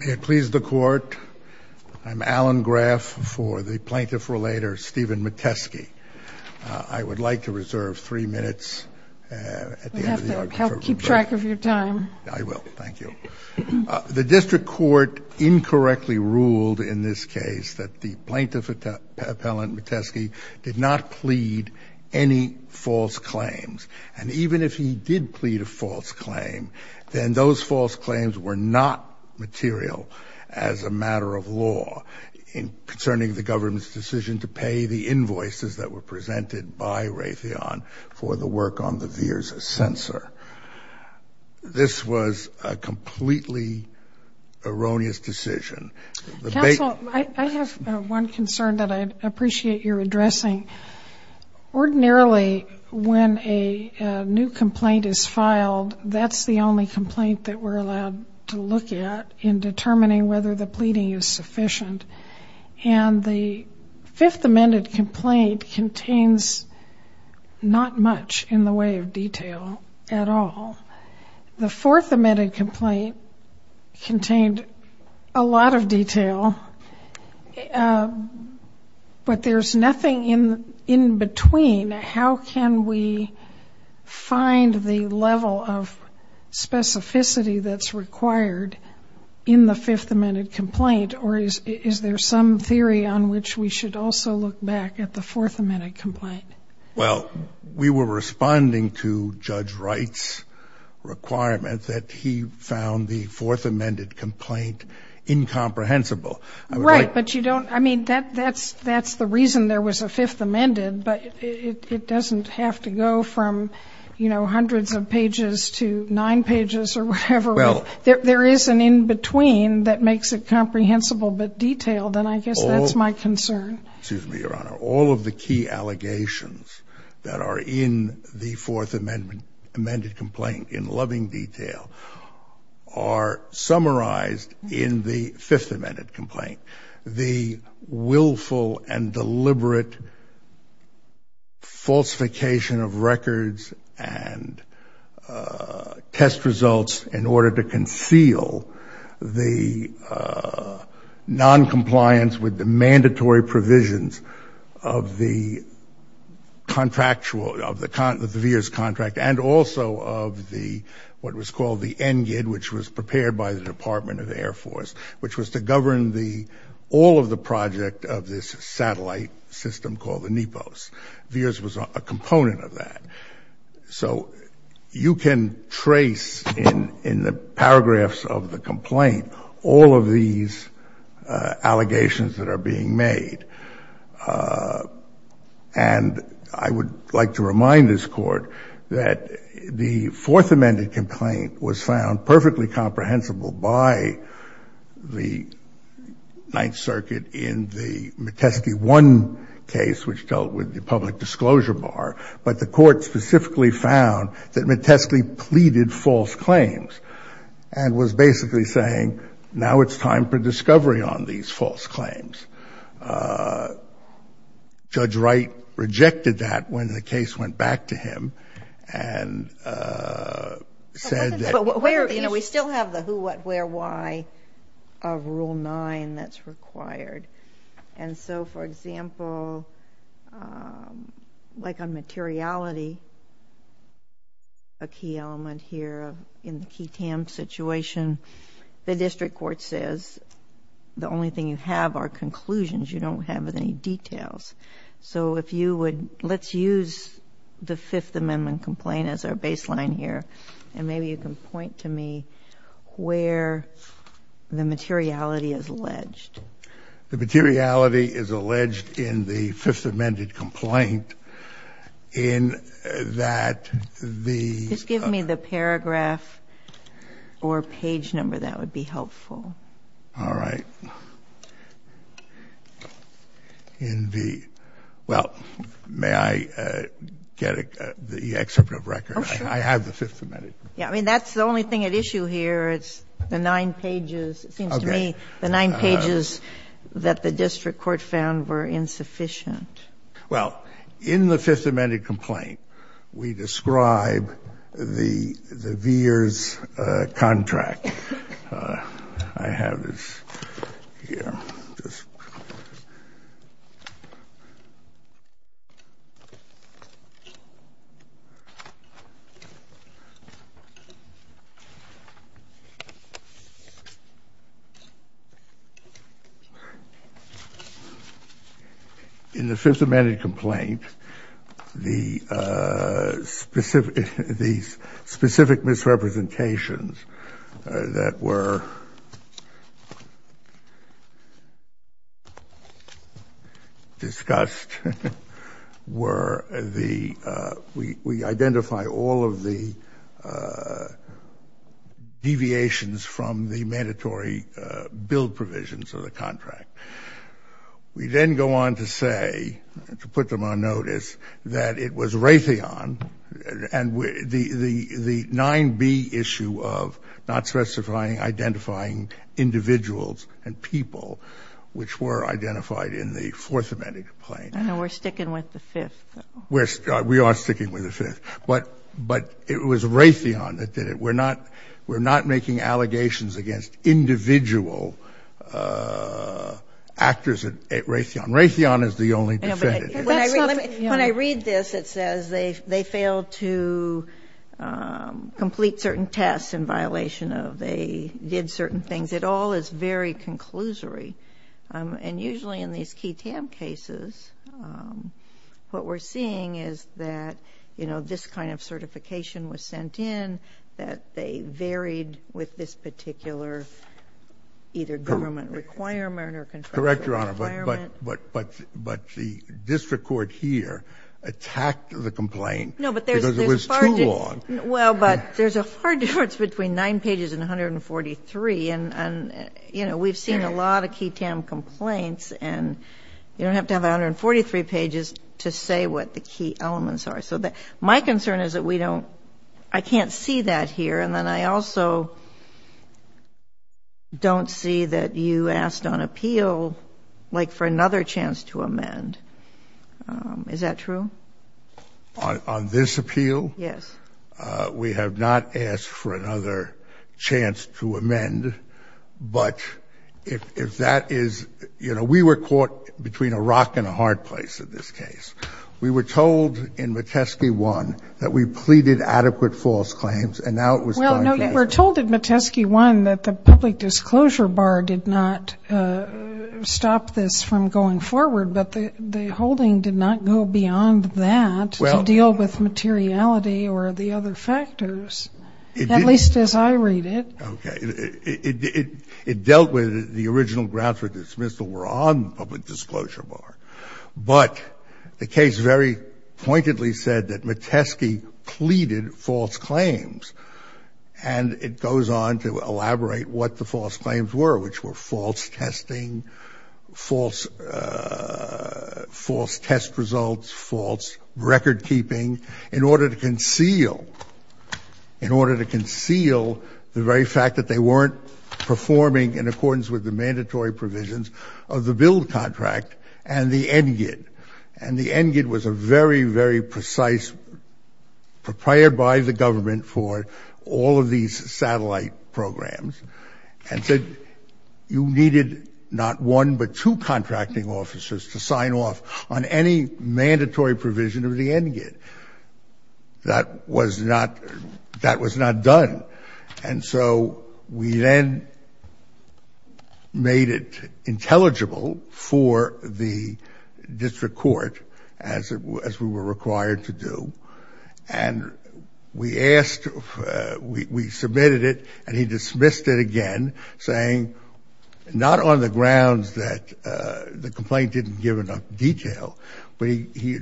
May it please the Court, I'm Alan Graff for the plaintiff relator Steven Mateski. I would like to reserve three minutes at the end of the argument. We'll have to help keep track of your time. I will. Thank you. The district court incorrectly ruled in this case that the plaintiff appellant, Mateski, did not plead any false claims. And even if he did plead a false claim, then those false claims were not material as a matter of law concerning the government's decision to pay the invoices that were presented by Raytheon for the work on the Veer's censor. This was a completely erroneous decision. Counsel, I have one concern that I'd appreciate your addressing. Ordinarily, when a new complaint is filed, that's the only complaint that we're allowed to look at in determining whether the pleading is sufficient. And the fifth amended complaint contains not much in the way of detail at all. The fourth amended complaint contained a lot of detail. But there's nothing in between. How can we find the level of specificity that's required in the fifth amended complaint? Or is there some theory on which we should also look back at the fourth amended complaint? Well, we were responding to Judge Wright's requirement that he found the fourth amended complaint incomprehensible. Right. But you don't – I mean, that's the reason there was a fifth amended. But it doesn't have to go from, you know, hundreds of pages to nine pages or whatever. Well – There is an in between that makes it comprehensible but detailed. And I guess that's my concern. Excuse me, Your Honor. All of the key allegations that are in the fourth amended complaint in loving detail are summarized in the fifth amended complaint. The willful and deliberate falsification of records and test results in order to conceal the noncompliance with the mandatory provisions of the contractual – of the VIIRS contract and also of the – what was called the NGID, which was prepared by the Department of the Air Force, which was to govern the – all of the project of this satellite system called the NEPOS. VIIRS was a component of that. So you can trace in the paragraphs of the complaint all of these allegations that are being made. And I would like to remind this Court that the fourth amended complaint was found perfectly comprehensible by the Ninth Circuit in the Metesky 1 case, which dealt with the public disclosure bar. But the Court specifically found that Metesky pleaded false claims and was basically saying now it's time for discovery on these false claims. Judge Wright rejected that when the case went back to him and said that – We still have the who, what, where, why of Rule 9 that's required. And so, for example, like on materiality, a key element here in the key TAM situation, the district court says the only thing you have are conclusions. You don't have any details. So if you would – let's use the Fifth Amendment complaint as our baseline here, and maybe you can point to me where the materiality is alleged. The materiality is alleged in the Fifth Amendment complaint in that the – Just give me the paragraph or page number. That would be helpful. All right. Well, may I get the excerpt of record? I have the Fifth Amendment. I mean, that's the only thing at issue here. It's the nine pages. It seems to me the nine pages that the district court found were insufficient. Well, in the Fifth Amendment complaint, we describe the VEERS contract. I have this here. This. All right. Discussed were the – we identify all of the deviations from the mandatory bill provisions of the contract. We then go on to say, to put them on notice, that it was Raytheon and the 9B issue of not specifying, identifying individuals and people which were identified in the Fourth Amendment complaint. I know we're sticking with the Fifth, though. We are sticking with the Fifth. But it was Raytheon that did it. We're not making allegations against individual actors at Raytheon. Raytheon is the only defendant. When I read this, it says they failed to complete certain tests in violation of. They did certain things. It all is very conclusory. And usually in these key TAM cases, what we're seeing is that, you know, this kind of certification was sent in, that they varied with this particular Correct, Your Honor. But the district court here attacked the complaint because it was too long. No, but there's a far difference between nine pages and 143. And, you know, we've seen a lot of key TAM complaints. And you don't have to have 143 pages to say what the key elements are. So my concern is that we don't – I can't see that here. And then I also don't see that you asked on appeal, like, for another chance to amend. Is that true? On this appeal? Yes. We have not asked for another chance to amend. But if that is – you know, we were caught between a rock and a hard place in this case. We were told in Metesky 1 that we pleaded adequate false claims. And now it was going to be – Well, no, you were told in Metesky 1 that the public disclosure bar did not stop this from going forward, but the holding did not go beyond that to deal with materiality or the other factors, at least as I read it. Okay. It dealt with the original grounds for dismissal were on the public disclosure bar. But the case very pointedly said that Metesky pleaded false claims. And it goes on to elaborate what the false claims were, which were false testing, false test results, false recordkeeping, in order to conceal, in order to conceal the very fact that they weren't performing in accordance with the mandatory provisions of the BUILD contract and the NGID. And the NGID was a very, very precise – prepared by the government for all of these satellite programs and said you needed not one but two contracting officers to sign off on any mandatory provision of the NGID. That was not – that was not done. And so we then made it intelligible for the district court, as we were required to do, and we asked – we submitted it and he dismissed it again, saying not on the grounds that the complaint didn't give enough detail, but he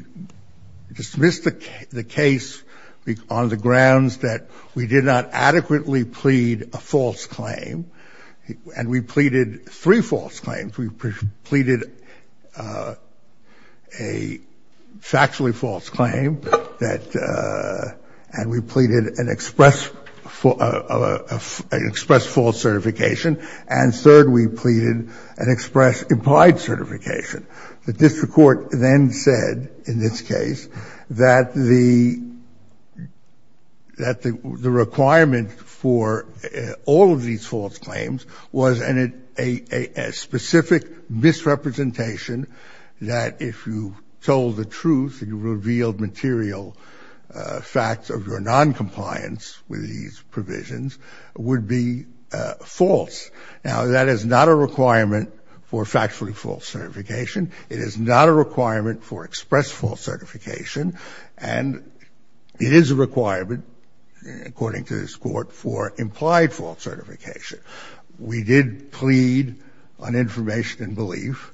dismissed the case on the grounds that we inadequately plead a false claim. And we pleaded three false claims. We pleaded a factually false claim that – and we pleaded an express – an express false certification. And third, we pleaded an express implied certification. The district court then said, in this case, that the – that the requirement for all of these false claims was a specific misrepresentation that if you told the truth, you revealed material facts of your noncompliance with these provisions, would be false. Now, that is not a requirement for factually false certification. It is not a requirement for express false certification. And it is a requirement, according to this Court, for implied false certification. We did plead on information and belief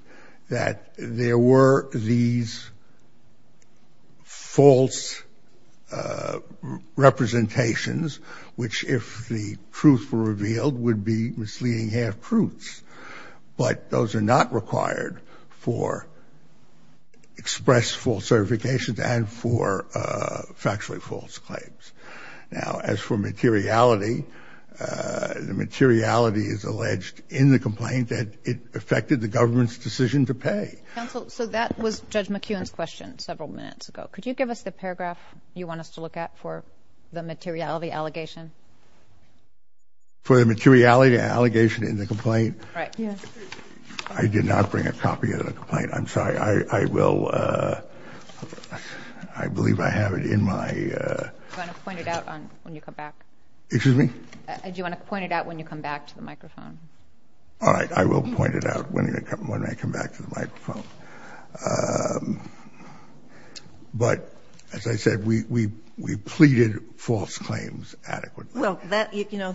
that there were these false representations, which, if the truth were revealed, would be misleading half-truths. But those are not required for express false certifications and for factually false claims. Now, as for materiality, the materiality is alleged in the complaint that it affected the government's decision to pay. Counsel, so that was Judge McKeown's question several minutes ago. Could you give us the paragraph you want us to look at for the materiality allegation? For the materiality allegation in the complaint? Right. Yes. I did not bring a copy of the complaint. I'm sorry. I will – I believe I have it in my – Do you want to point it out when you come back? Excuse me? Do you want to point it out when you come back to the microphone? All right. I will point it out when I come back to the microphone. But, as I said, we pleaded false claims adequately. Well, that – you know,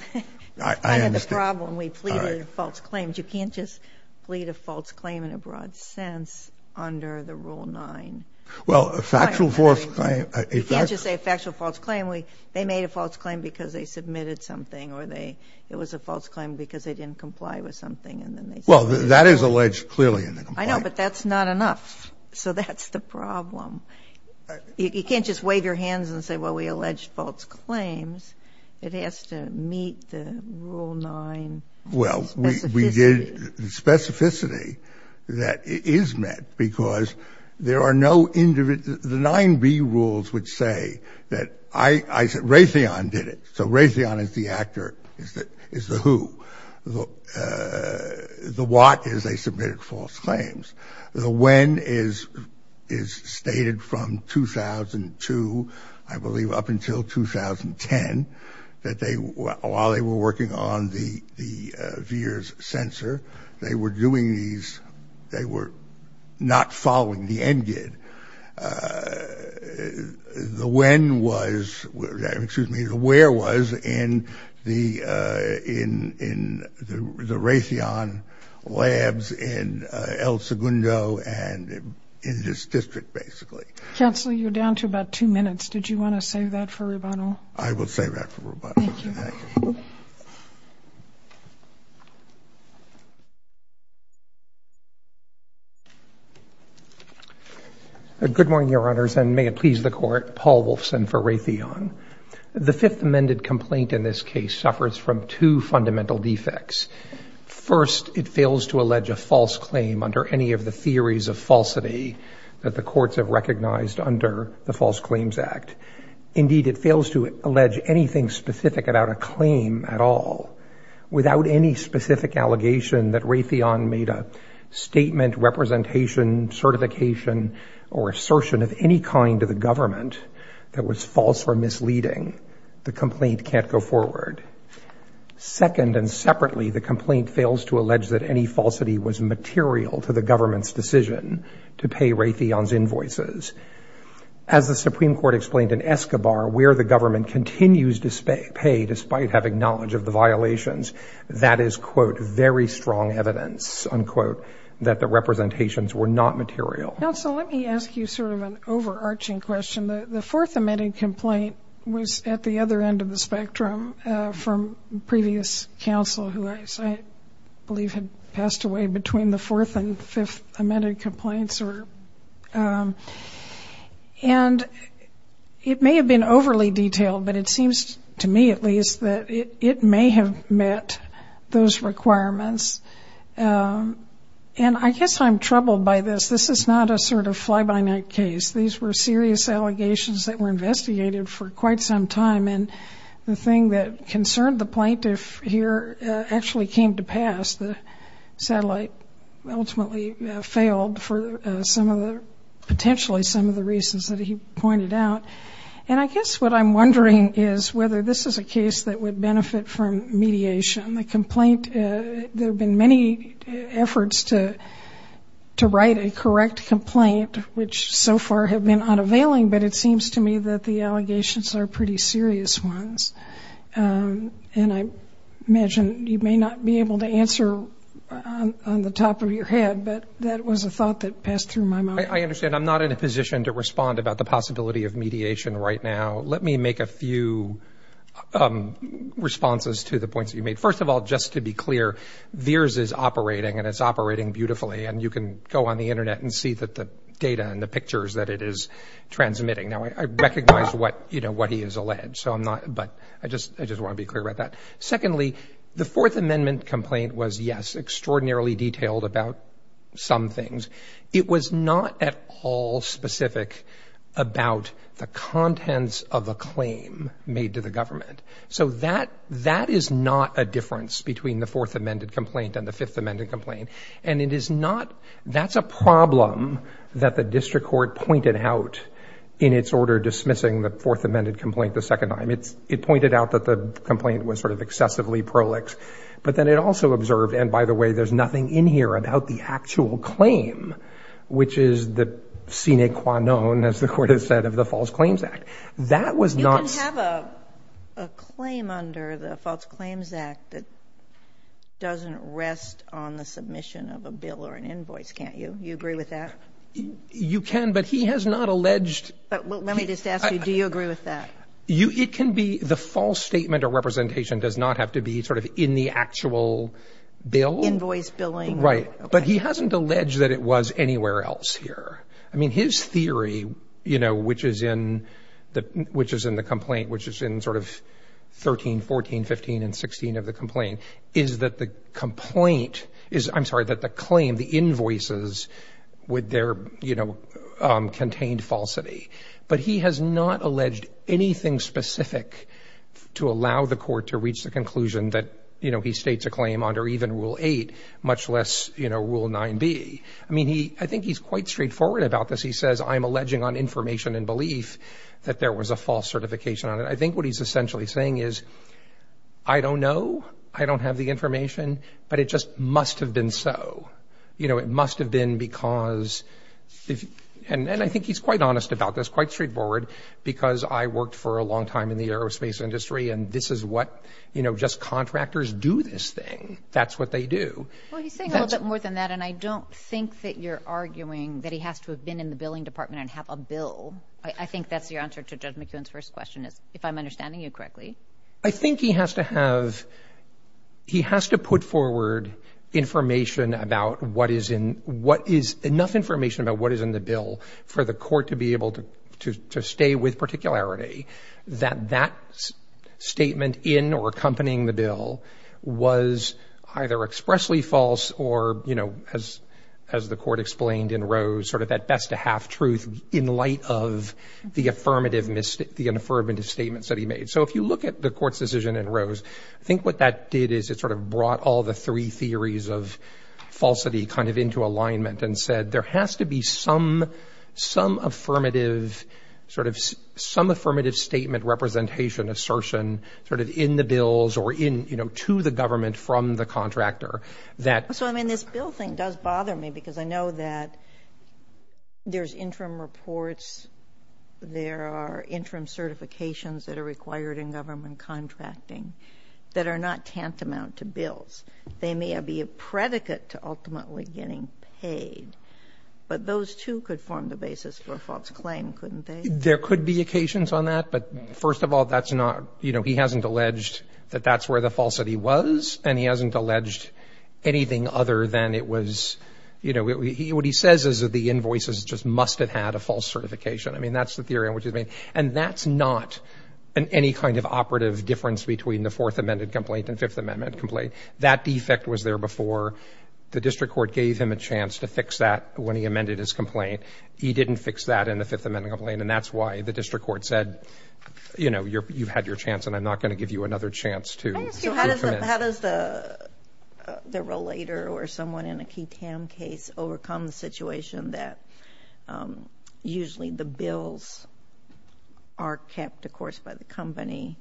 that's kind of the problem. We pleaded false claims. You can't just plead a false claim in a broad sense under the Rule 9. Well, a factual false claim – You can't just say a factual false claim. They made a false claim because they submitted something or they – it was a false claim because they didn't comply with something and then they submitted it. Well, that is alleged clearly in the complaint. I know, but that's not enough. So that's the problem. You can't just wave your hands and say, well, we alleged false claims. It has to meet the Rule 9 specificity. Well, we did – the specificity that it is met because there are no – the 9B rules would say that I – Raytheon did it. So Raytheon is the actor – is the who. The what is they submitted false claims. The when is stated from 2002, I believe, up until 2010, that they – while they were working on the VIIRS sensor, they were doing these – they were not following the NGID. And the when was – excuse me, the where was in the Raytheon labs in El Segundo and in this district, basically. Counselor, you're down to about two minutes. Did you want to save that for Rubano? I will save that for Rubano. Thank you. Good morning, Your Honors. And may it please the Court, Paul Wolfson for Raytheon. The Fifth Amended complaint in this case suffers from two fundamental defects. First, it fails to allege a false claim under any of the theories of falsity that the courts have recognized under the False Claims Act. Indeed, it fails to allege anything specific about a claim at all without any specific allegation that Raytheon made a statement, representation, certification, or assertion of any kind to the government that was false or misleading. The complaint can't go forward. Second, and separately, the complaint fails to allege that any falsity was material to the government's decision to pay Raytheon's invoices. As the Supreme Court explained in Escobar, where the government continues to pay despite having knowledge of the violations, that is, quote, very strong evidence, unquote, that the representations were not material. Counsel, let me ask you sort of an overarching question. The Fourth Amended complaint was at the other end of the spectrum from previous counsel who I believe had passed away between the Fourth and Fifth Amended complaints. And it may have been overly detailed, but it seems to me at least that it may have met those requirements. And I guess I'm troubled by this. This is not a sort of fly-by-night case. These were serious allegations that were investigated for quite some time, and the thing that concerned the plaintiff here actually came to pass. The satellite ultimately failed for some of the, potentially some of the reasons that he pointed out. And I guess what I'm wondering is whether this is a case that would benefit from mediation. The complaint, there have been many efforts to write a correct complaint, which so far have been unavailing, but it seems to me that the allegations are pretty serious ones. And I imagine you may not be able to answer on the top of your head, but that was a thought that passed through my mind. I understand. I'm not in a position to respond about the possibility of mediation right now. Let me make a few responses to the points that you made. First of all, just to be clear, VIIRS is operating, and it's operating beautifully. And you can go on the Internet and see the data and the pictures that it is transmitting. Now, I recognize what he has alleged, but I just want to be clear about that. Secondly, the Fourth Amendment complaint was, yes, extraordinarily detailed about some things. It was not at all specific about the contents of a claim made to the government. So that is not a difference between the Fourth Amendment complaint and the Fifth Amendment complaint. And it is not — that's a problem that the district court pointed out in its order dismissing the Fourth Amendment complaint the second time. It pointed out that the complaint was sort of excessively prolix. But then it also observed, and by the way, there's nothing in here about the actual claim, which is the sine qua non, as the Court has said, of the False Claims Act. That was not — You can have a claim under the False Claims Act that doesn't rest on the submission of a bill or an invoice, can't you? Do you agree with that? You can, but he has not alleged — But let me just ask you, do you agree with that? You — it can be — the false statement or representation does not have to be sort of in the actual bill. Invoice, billing. Right. But he hasn't alleged that it was anywhere else here. I mean, his theory, you know, which is in the complaint, which is in sort of 13, 14, 15, and 16 of the complaint, is that the complaint is — I'm sorry, that the claim, the invoices, would there, you know, contained falsity. But he has not alleged anything specific to allow the Court to reach the conclusion that, you know, he states a claim under even Rule 8, much less, you know, Rule 9b. I mean, he — I think he's quite straightforward about this. He says, I'm alleging on information and belief that there was a false certification on it. I think what he's essentially saying is, I don't know, I don't have the information, but it just must have been so. You know, it must have been because — and I think he's quite honest about this, quite straightforward, because I worked for a long time in the aerospace industry, and this is what, you know, just contractors do this thing. That's what they do. Well, he's saying a little bit more than that, and I don't think that you're arguing that he has to have been in the billing department and have a bill. I think that's your answer to Judge McEwen's first question, if I'm understanding you correctly. I think he has to have — he has to put forward information about what is in — enough information about what is in the bill for the Court to be able to stay with particularity, that that statement in or accompanying the bill was either expressly false or, you know, as the Court explained in Rose, sort of that best-of-half truth in light of the affirmative — the inaffirmative statements that he made. So if you look at the Court's decision in Rose, I think what that did is it sort of brought all the three theories of falsity kind of into alignment and said there has to be some affirmative sort of — some affirmative statement, representation, assertion sort of in the bills or in, you know, to the government from the contractor that — So, I mean, this bill thing does bother me because I know that there's interim reports, there are interim certifications that are required in government contracting that are not tantamount to bills. They may be a predicate to ultimately getting paid, but those, too, could form the basis for a false claim, couldn't they? There could be occasions on that, but first of all, that's not — you know, he hasn't alleged that that's where the falsity was and he hasn't alleged anything other than it was — you know, what he says is that the invoices just must have had a false certification. I mean, that's the theory in which he's made. And that's not any kind of operative difference between the Fourth Amendment complaint and Fifth Amendment complaint. That defect was there before. The district court gave him a chance to fix that when he amended his complaint. He didn't fix that in the Fifth Amendment complaint, and that's why the district court said, you know, you've had your chance and I'm not going to give you another chance to — So how does the relator or someone in a key TAM case overcome the situation that usually the bills are kept, of course, by the company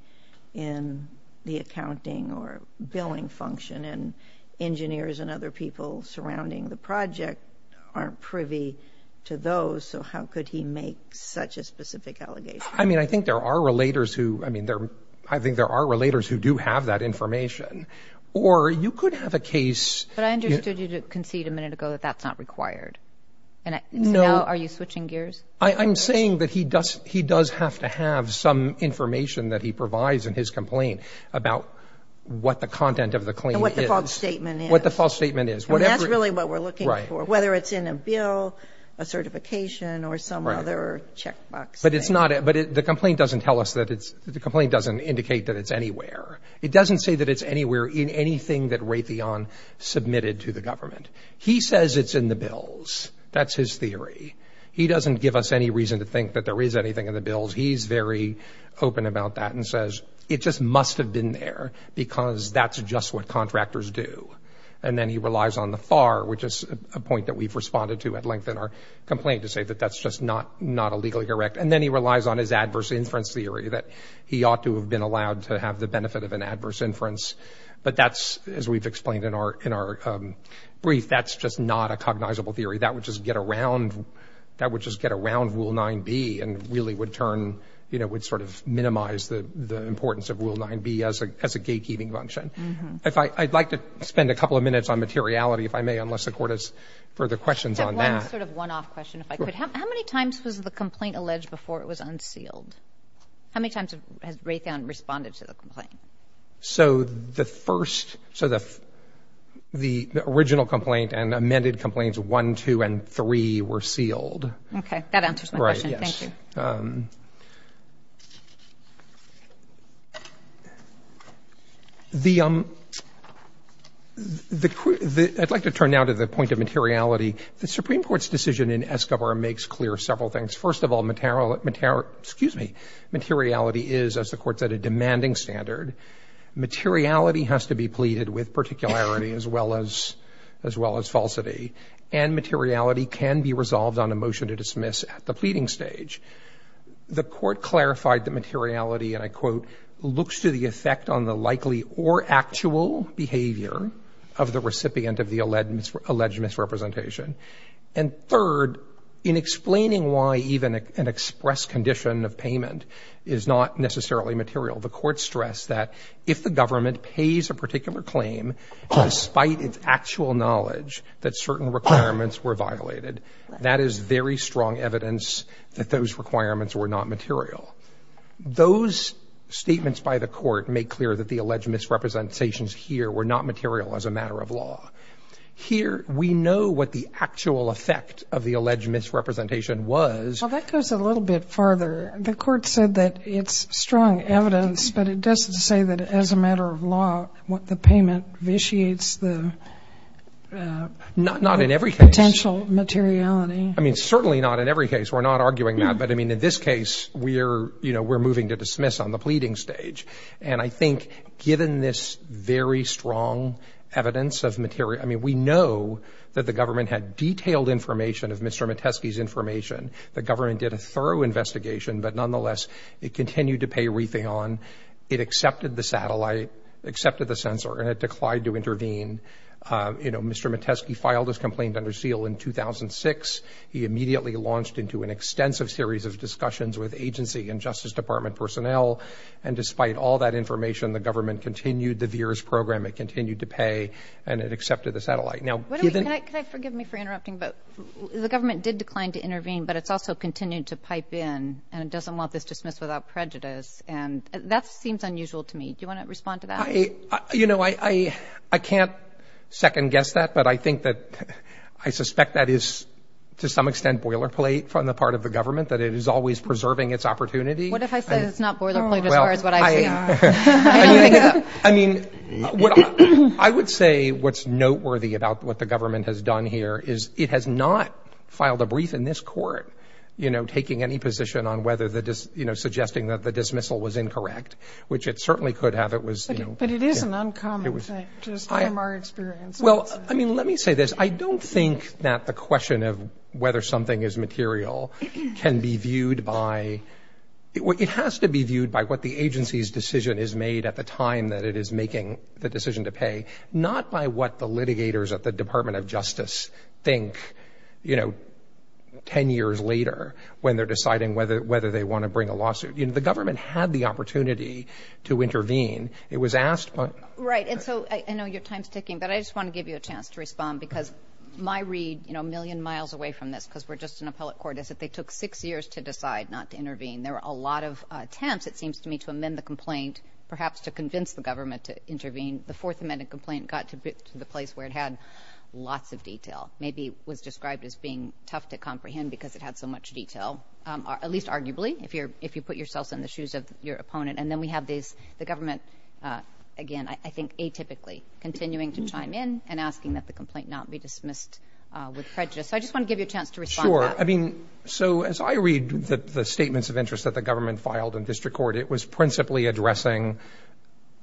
in the accounting or billing function and engineers and other people surrounding the project aren't privy to those? So how could he make such a specific allegation? I mean, I think there are relators who — I mean, I think there are relators who do have that information. Or you could have a case — But I understood you concede a minute ago that that's not required. And now are you switching gears? I'm saying that he does have to have some information that he provides in his complaint about what the content of the claim is. And what the false statement is. What the false statement is. And that's really what we're looking for, whether it's in a bill, a certification, or some other checkbox thing. But it's not — but the complaint doesn't tell us that it's — the complaint doesn't indicate that it's anywhere. It doesn't say that it's anywhere in anything that Raytheon submitted to the government. He says it's in the bills. That's his theory. He doesn't give us any reason to think that there is anything in the bills. He's very open about that and says it just must have been there because that's just what contractors do. And then he relies on the FAR, which is a point that we've responded to at length in our complaint, to say that that's just not a legally correct — and then he relies on his adverse inference theory that he ought to have been allowed to have the benefit of an adverse inference. But that's — as we've explained in our brief, that's just not a cognizable theory. That would just get around — that would just get around Rule 9b and really would turn — you know, would sort of minimize the importance of Rule 9b as a gatekeeping function. If I — I'd like to spend a couple of minutes on materiality, if I may, unless the Court has further questions on that. I have one sort of one-off question, if I could. How many times was the complaint alleged before it was unsealed? How many times has Raytheon responded to the complaint? So the first — so the — the original complaint and amended complaints 1, 2, and 3 were sealed. Okay. That answers my question. Right, yes. Thank you. The — I'd like to turn now to the point of materiality. The Supreme Court's decision in Escobar makes clear several things. First of all, material — excuse me — materiality is, as the Court said, a demanding standard. Materiality has to be pleaded with particularity as well as — as well as falsity. And materiality can be resolved on a motion to dismiss at the pleading stage. The Court clarified that materiality, and I quote, looks to the effect on the likely or actual behavior of the recipient of the alleged misrepresentation. And third, in explaining why even an express condition of payment is not necessarily material, the Court stressed that if the government pays a particular claim despite its actual knowledge that certain requirements were violated, that is very strong evidence that those requirements were not material. Those statements by the Court make clear that the alleged misrepresentations here were not material as a matter of law. Here, we know what the actual effect of the alleged misrepresentation was. Well, that goes a little bit farther. The Court said that it's strong evidence, but it doesn't say that as a matter of law what the payment vitiates the — Not in every case. — potential materiality. I mean, certainly not in every case. We're not arguing that. But, I mean, in this case, we're — you know, we're moving to dismiss on the pleading stage. And I think given this very strong evidence of material — I mean, we know that the government had detailed information of Mr. Metesky's information. The government did a thorough investigation, but nonetheless, it continued to pay wreathing on. It accepted the satellite, accepted the sensor, and it declined to intervene. You know, Mr. Metesky filed his complaint under seal in 2006. He immediately launched into an extensive series of discussions with agency and Justice Department personnel. And despite all that information, the government continued the VIIRS program. It continued to pay, and it accepted the satellite. Now, even — Wait a minute. Can I — can I forgive me for interrupting? But the government did decline to intervene, but it's also continued to pipe in, and it doesn't want this dismissed without prejudice. And that seems unusual to me. Do you want to respond to that? I — you know, I can't second-guess that, but I think that — I suspect that is, to some extent, boilerplate on the part of the government, that it is always preserving its opportunity. What if I say it's not boilerplate as far as what I see? I don't think so. I mean, I would say what's noteworthy about what the government has done here is it has not filed a brief in this court, you know, taking any position on whether the — you know, suggesting that the dismissal was incorrect, which it certainly could have. It was — But it is an uncommon thing, just from our experience. Well, I mean, let me say this. I don't think that the question of whether something is material can be viewed by — it has to be viewed by what the agency's decision is made at the time that it is making the decision to pay, not by what the litigators at the Department of Justice think, you know, 10 years later when they're deciding whether they want to bring a lawsuit. You know, the government had the opportunity to intervene. It was asked — Right. And so I know your time's ticking, but I just want to give you a chance to respond because my read, you know, a million miles away from this, is that they took six years to decide not to intervene. There were a lot of attempts, it seems to me, to amend the complaint, perhaps to convince the government to intervene. The Fourth Amendment complaint got to the place where it had lots of detail, maybe was described as being tough to comprehend because it had so much detail, at least arguably, if you put yourself in the shoes of your opponent. And then we have the government, again, I think atypically, continuing to chime in and asking that the complaint not be dismissed with prejudice. So I just want to give you a chance to respond to that. I mean, so as I read the statements of interest that the government filed in district court, it was principally addressing,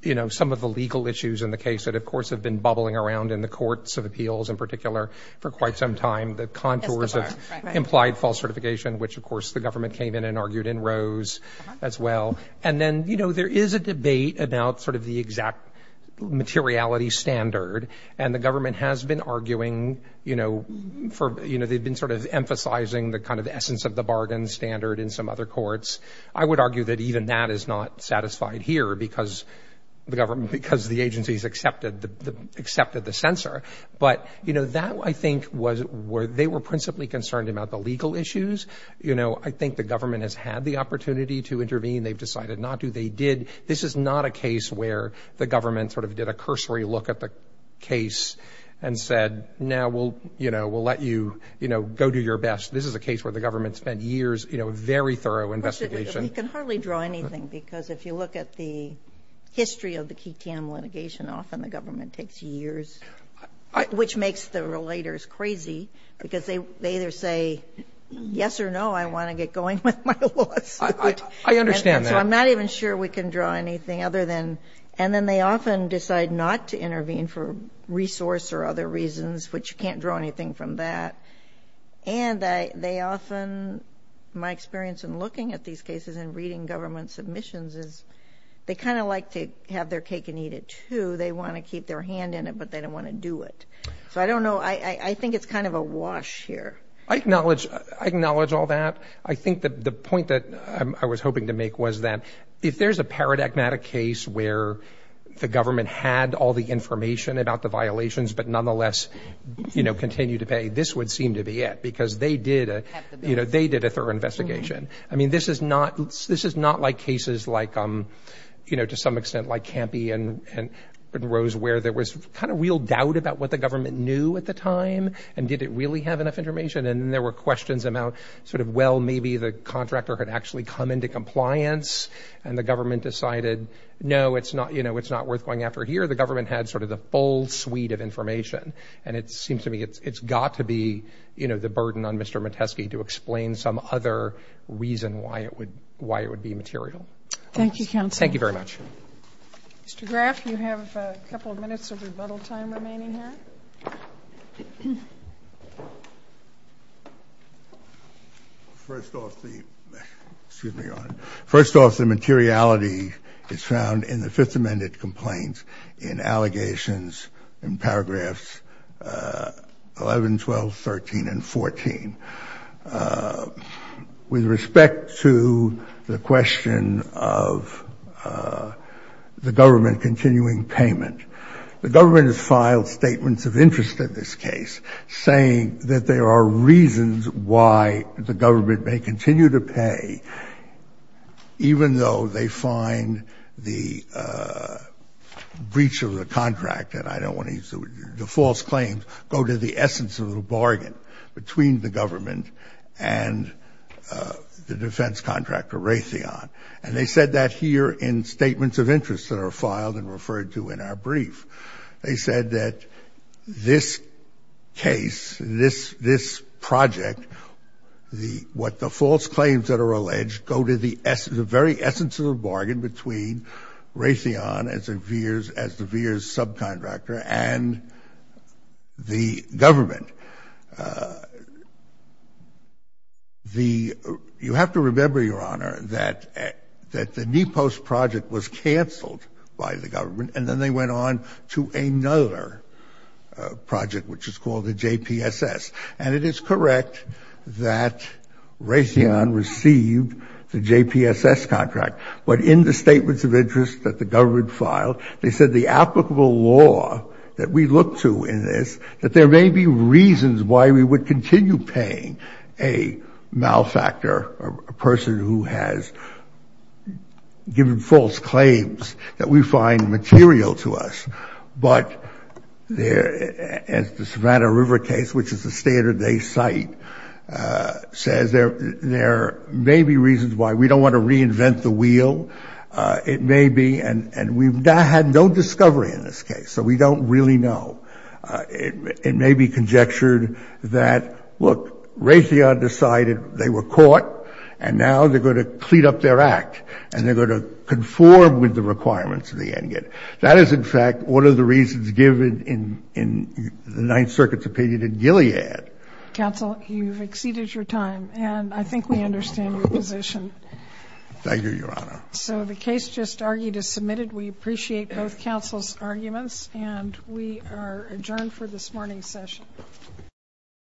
you know, some of the legal issues in the case that, of course, have been bubbling around in the courts of appeals in particular for quite some time, the contours of implied false certification, which, of course, the government came in and argued in rows as well. And then, you know, there is a debate about sort of the exact materiality standard. And the government has been arguing, you know, for — kind of the essence of the bargain standard in some other courts. I would argue that even that is not satisfied here because the government — because the agencies accepted the censor. But, you know, that, I think, was where they were principally concerned about the legal issues. You know, I think the government has had the opportunity to intervene. They've decided not to. They did — this is not a case where the government sort of did a cursory look at the case and said, now we'll, you know, we'll let you, you know, go do your best. This is a case where the government spent years, you know, very thorough investigation. But we can hardly draw anything because if you look at the history of the Keaton litigation, often the government takes years, which makes the relators crazy, because they either say, yes or no, I want to get going with my lawsuit. I understand that. So I'm not even sure we can draw anything other than — And then they often decide not to intervene for resource or other reasons, which you can't draw anything from that. And they often — my experience in looking at these cases and reading government submissions is they kind of like to have their cake and eat it, too. They want to keep their hand in it, but they don't want to do it. So I don't know. I think it's kind of a wash here. I acknowledge all that. I think the point that I was hoping to make was that if there's a paradigmatic case where the government had all the information about the violations, but nonetheless, you know, continued to pay, this would seem to be it, because they did a thorough investigation. I mean, this is not like cases like, you know, to some extent like Campy and Rose, where there was kind of real doubt about what the government knew at the time and did it really have enough information. And then there were questions about sort of, well, maybe the contractor had actually come into compliance and the government decided, no, it's not worth going after here. The government had sort of the full suite of information. And it seems to me it's got to be, you know, the burden on Mr. Metesky to explain some other reason why it would be material. Thank you, counsel. Thank you very much. Mr. Graf, you have a couple of minutes of rebuttal time remaining here. First off, the materiality is found in the Fifth Amendment complaints in allegations in paragraphs 11, 12, 13, and 14. And with respect to the question of the government continuing payment, the government has filed statements of interest in this case, saying that there are reasons why the government may continue to pay, even though they find the breach of the contract, and I don't want to use the false claims, go to the essence of the bargain between the government and the defense contractor Raytheon. And they said that here in statements of interest that are filed and referred to in our brief. They said that this case, this project, what the false claims that are alleged go to the very essence of the bargain between Raytheon as the VEERS subcontractor and the government. You have to remember, Your Honor, that the NEPOST project was canceled by the government, and then they went on to another project, which is called the JPSS. And it is correct that Raytheon received the JPSS contract. But in the statements of interest that the government filed, they said the applicable law that we look to in this, that there may be reasons why we would continue paying a malfactor, a person who has given false claims that we find material to us. But as the Savannah River case, which is a standard they cite, says there may be reasons why we don't want to reinvent the wheel. It may be, and we've had no discovery in this case, so we don't really know. It may be conjectured that, look, Raytheon decided they were caught, and now they're going to clean up their act, and they're going to conform with the requirements of the NGET. That is, in fact, one of the reasons given in the Ninth Circuit's opinion in Gilead. Counsel, you've exceeded your time, and I think we understand your position. Thank you, Your Honor. So the case just argued is submitted. We appreciate both counsel's arguments, and we are adjourned for this morning's session.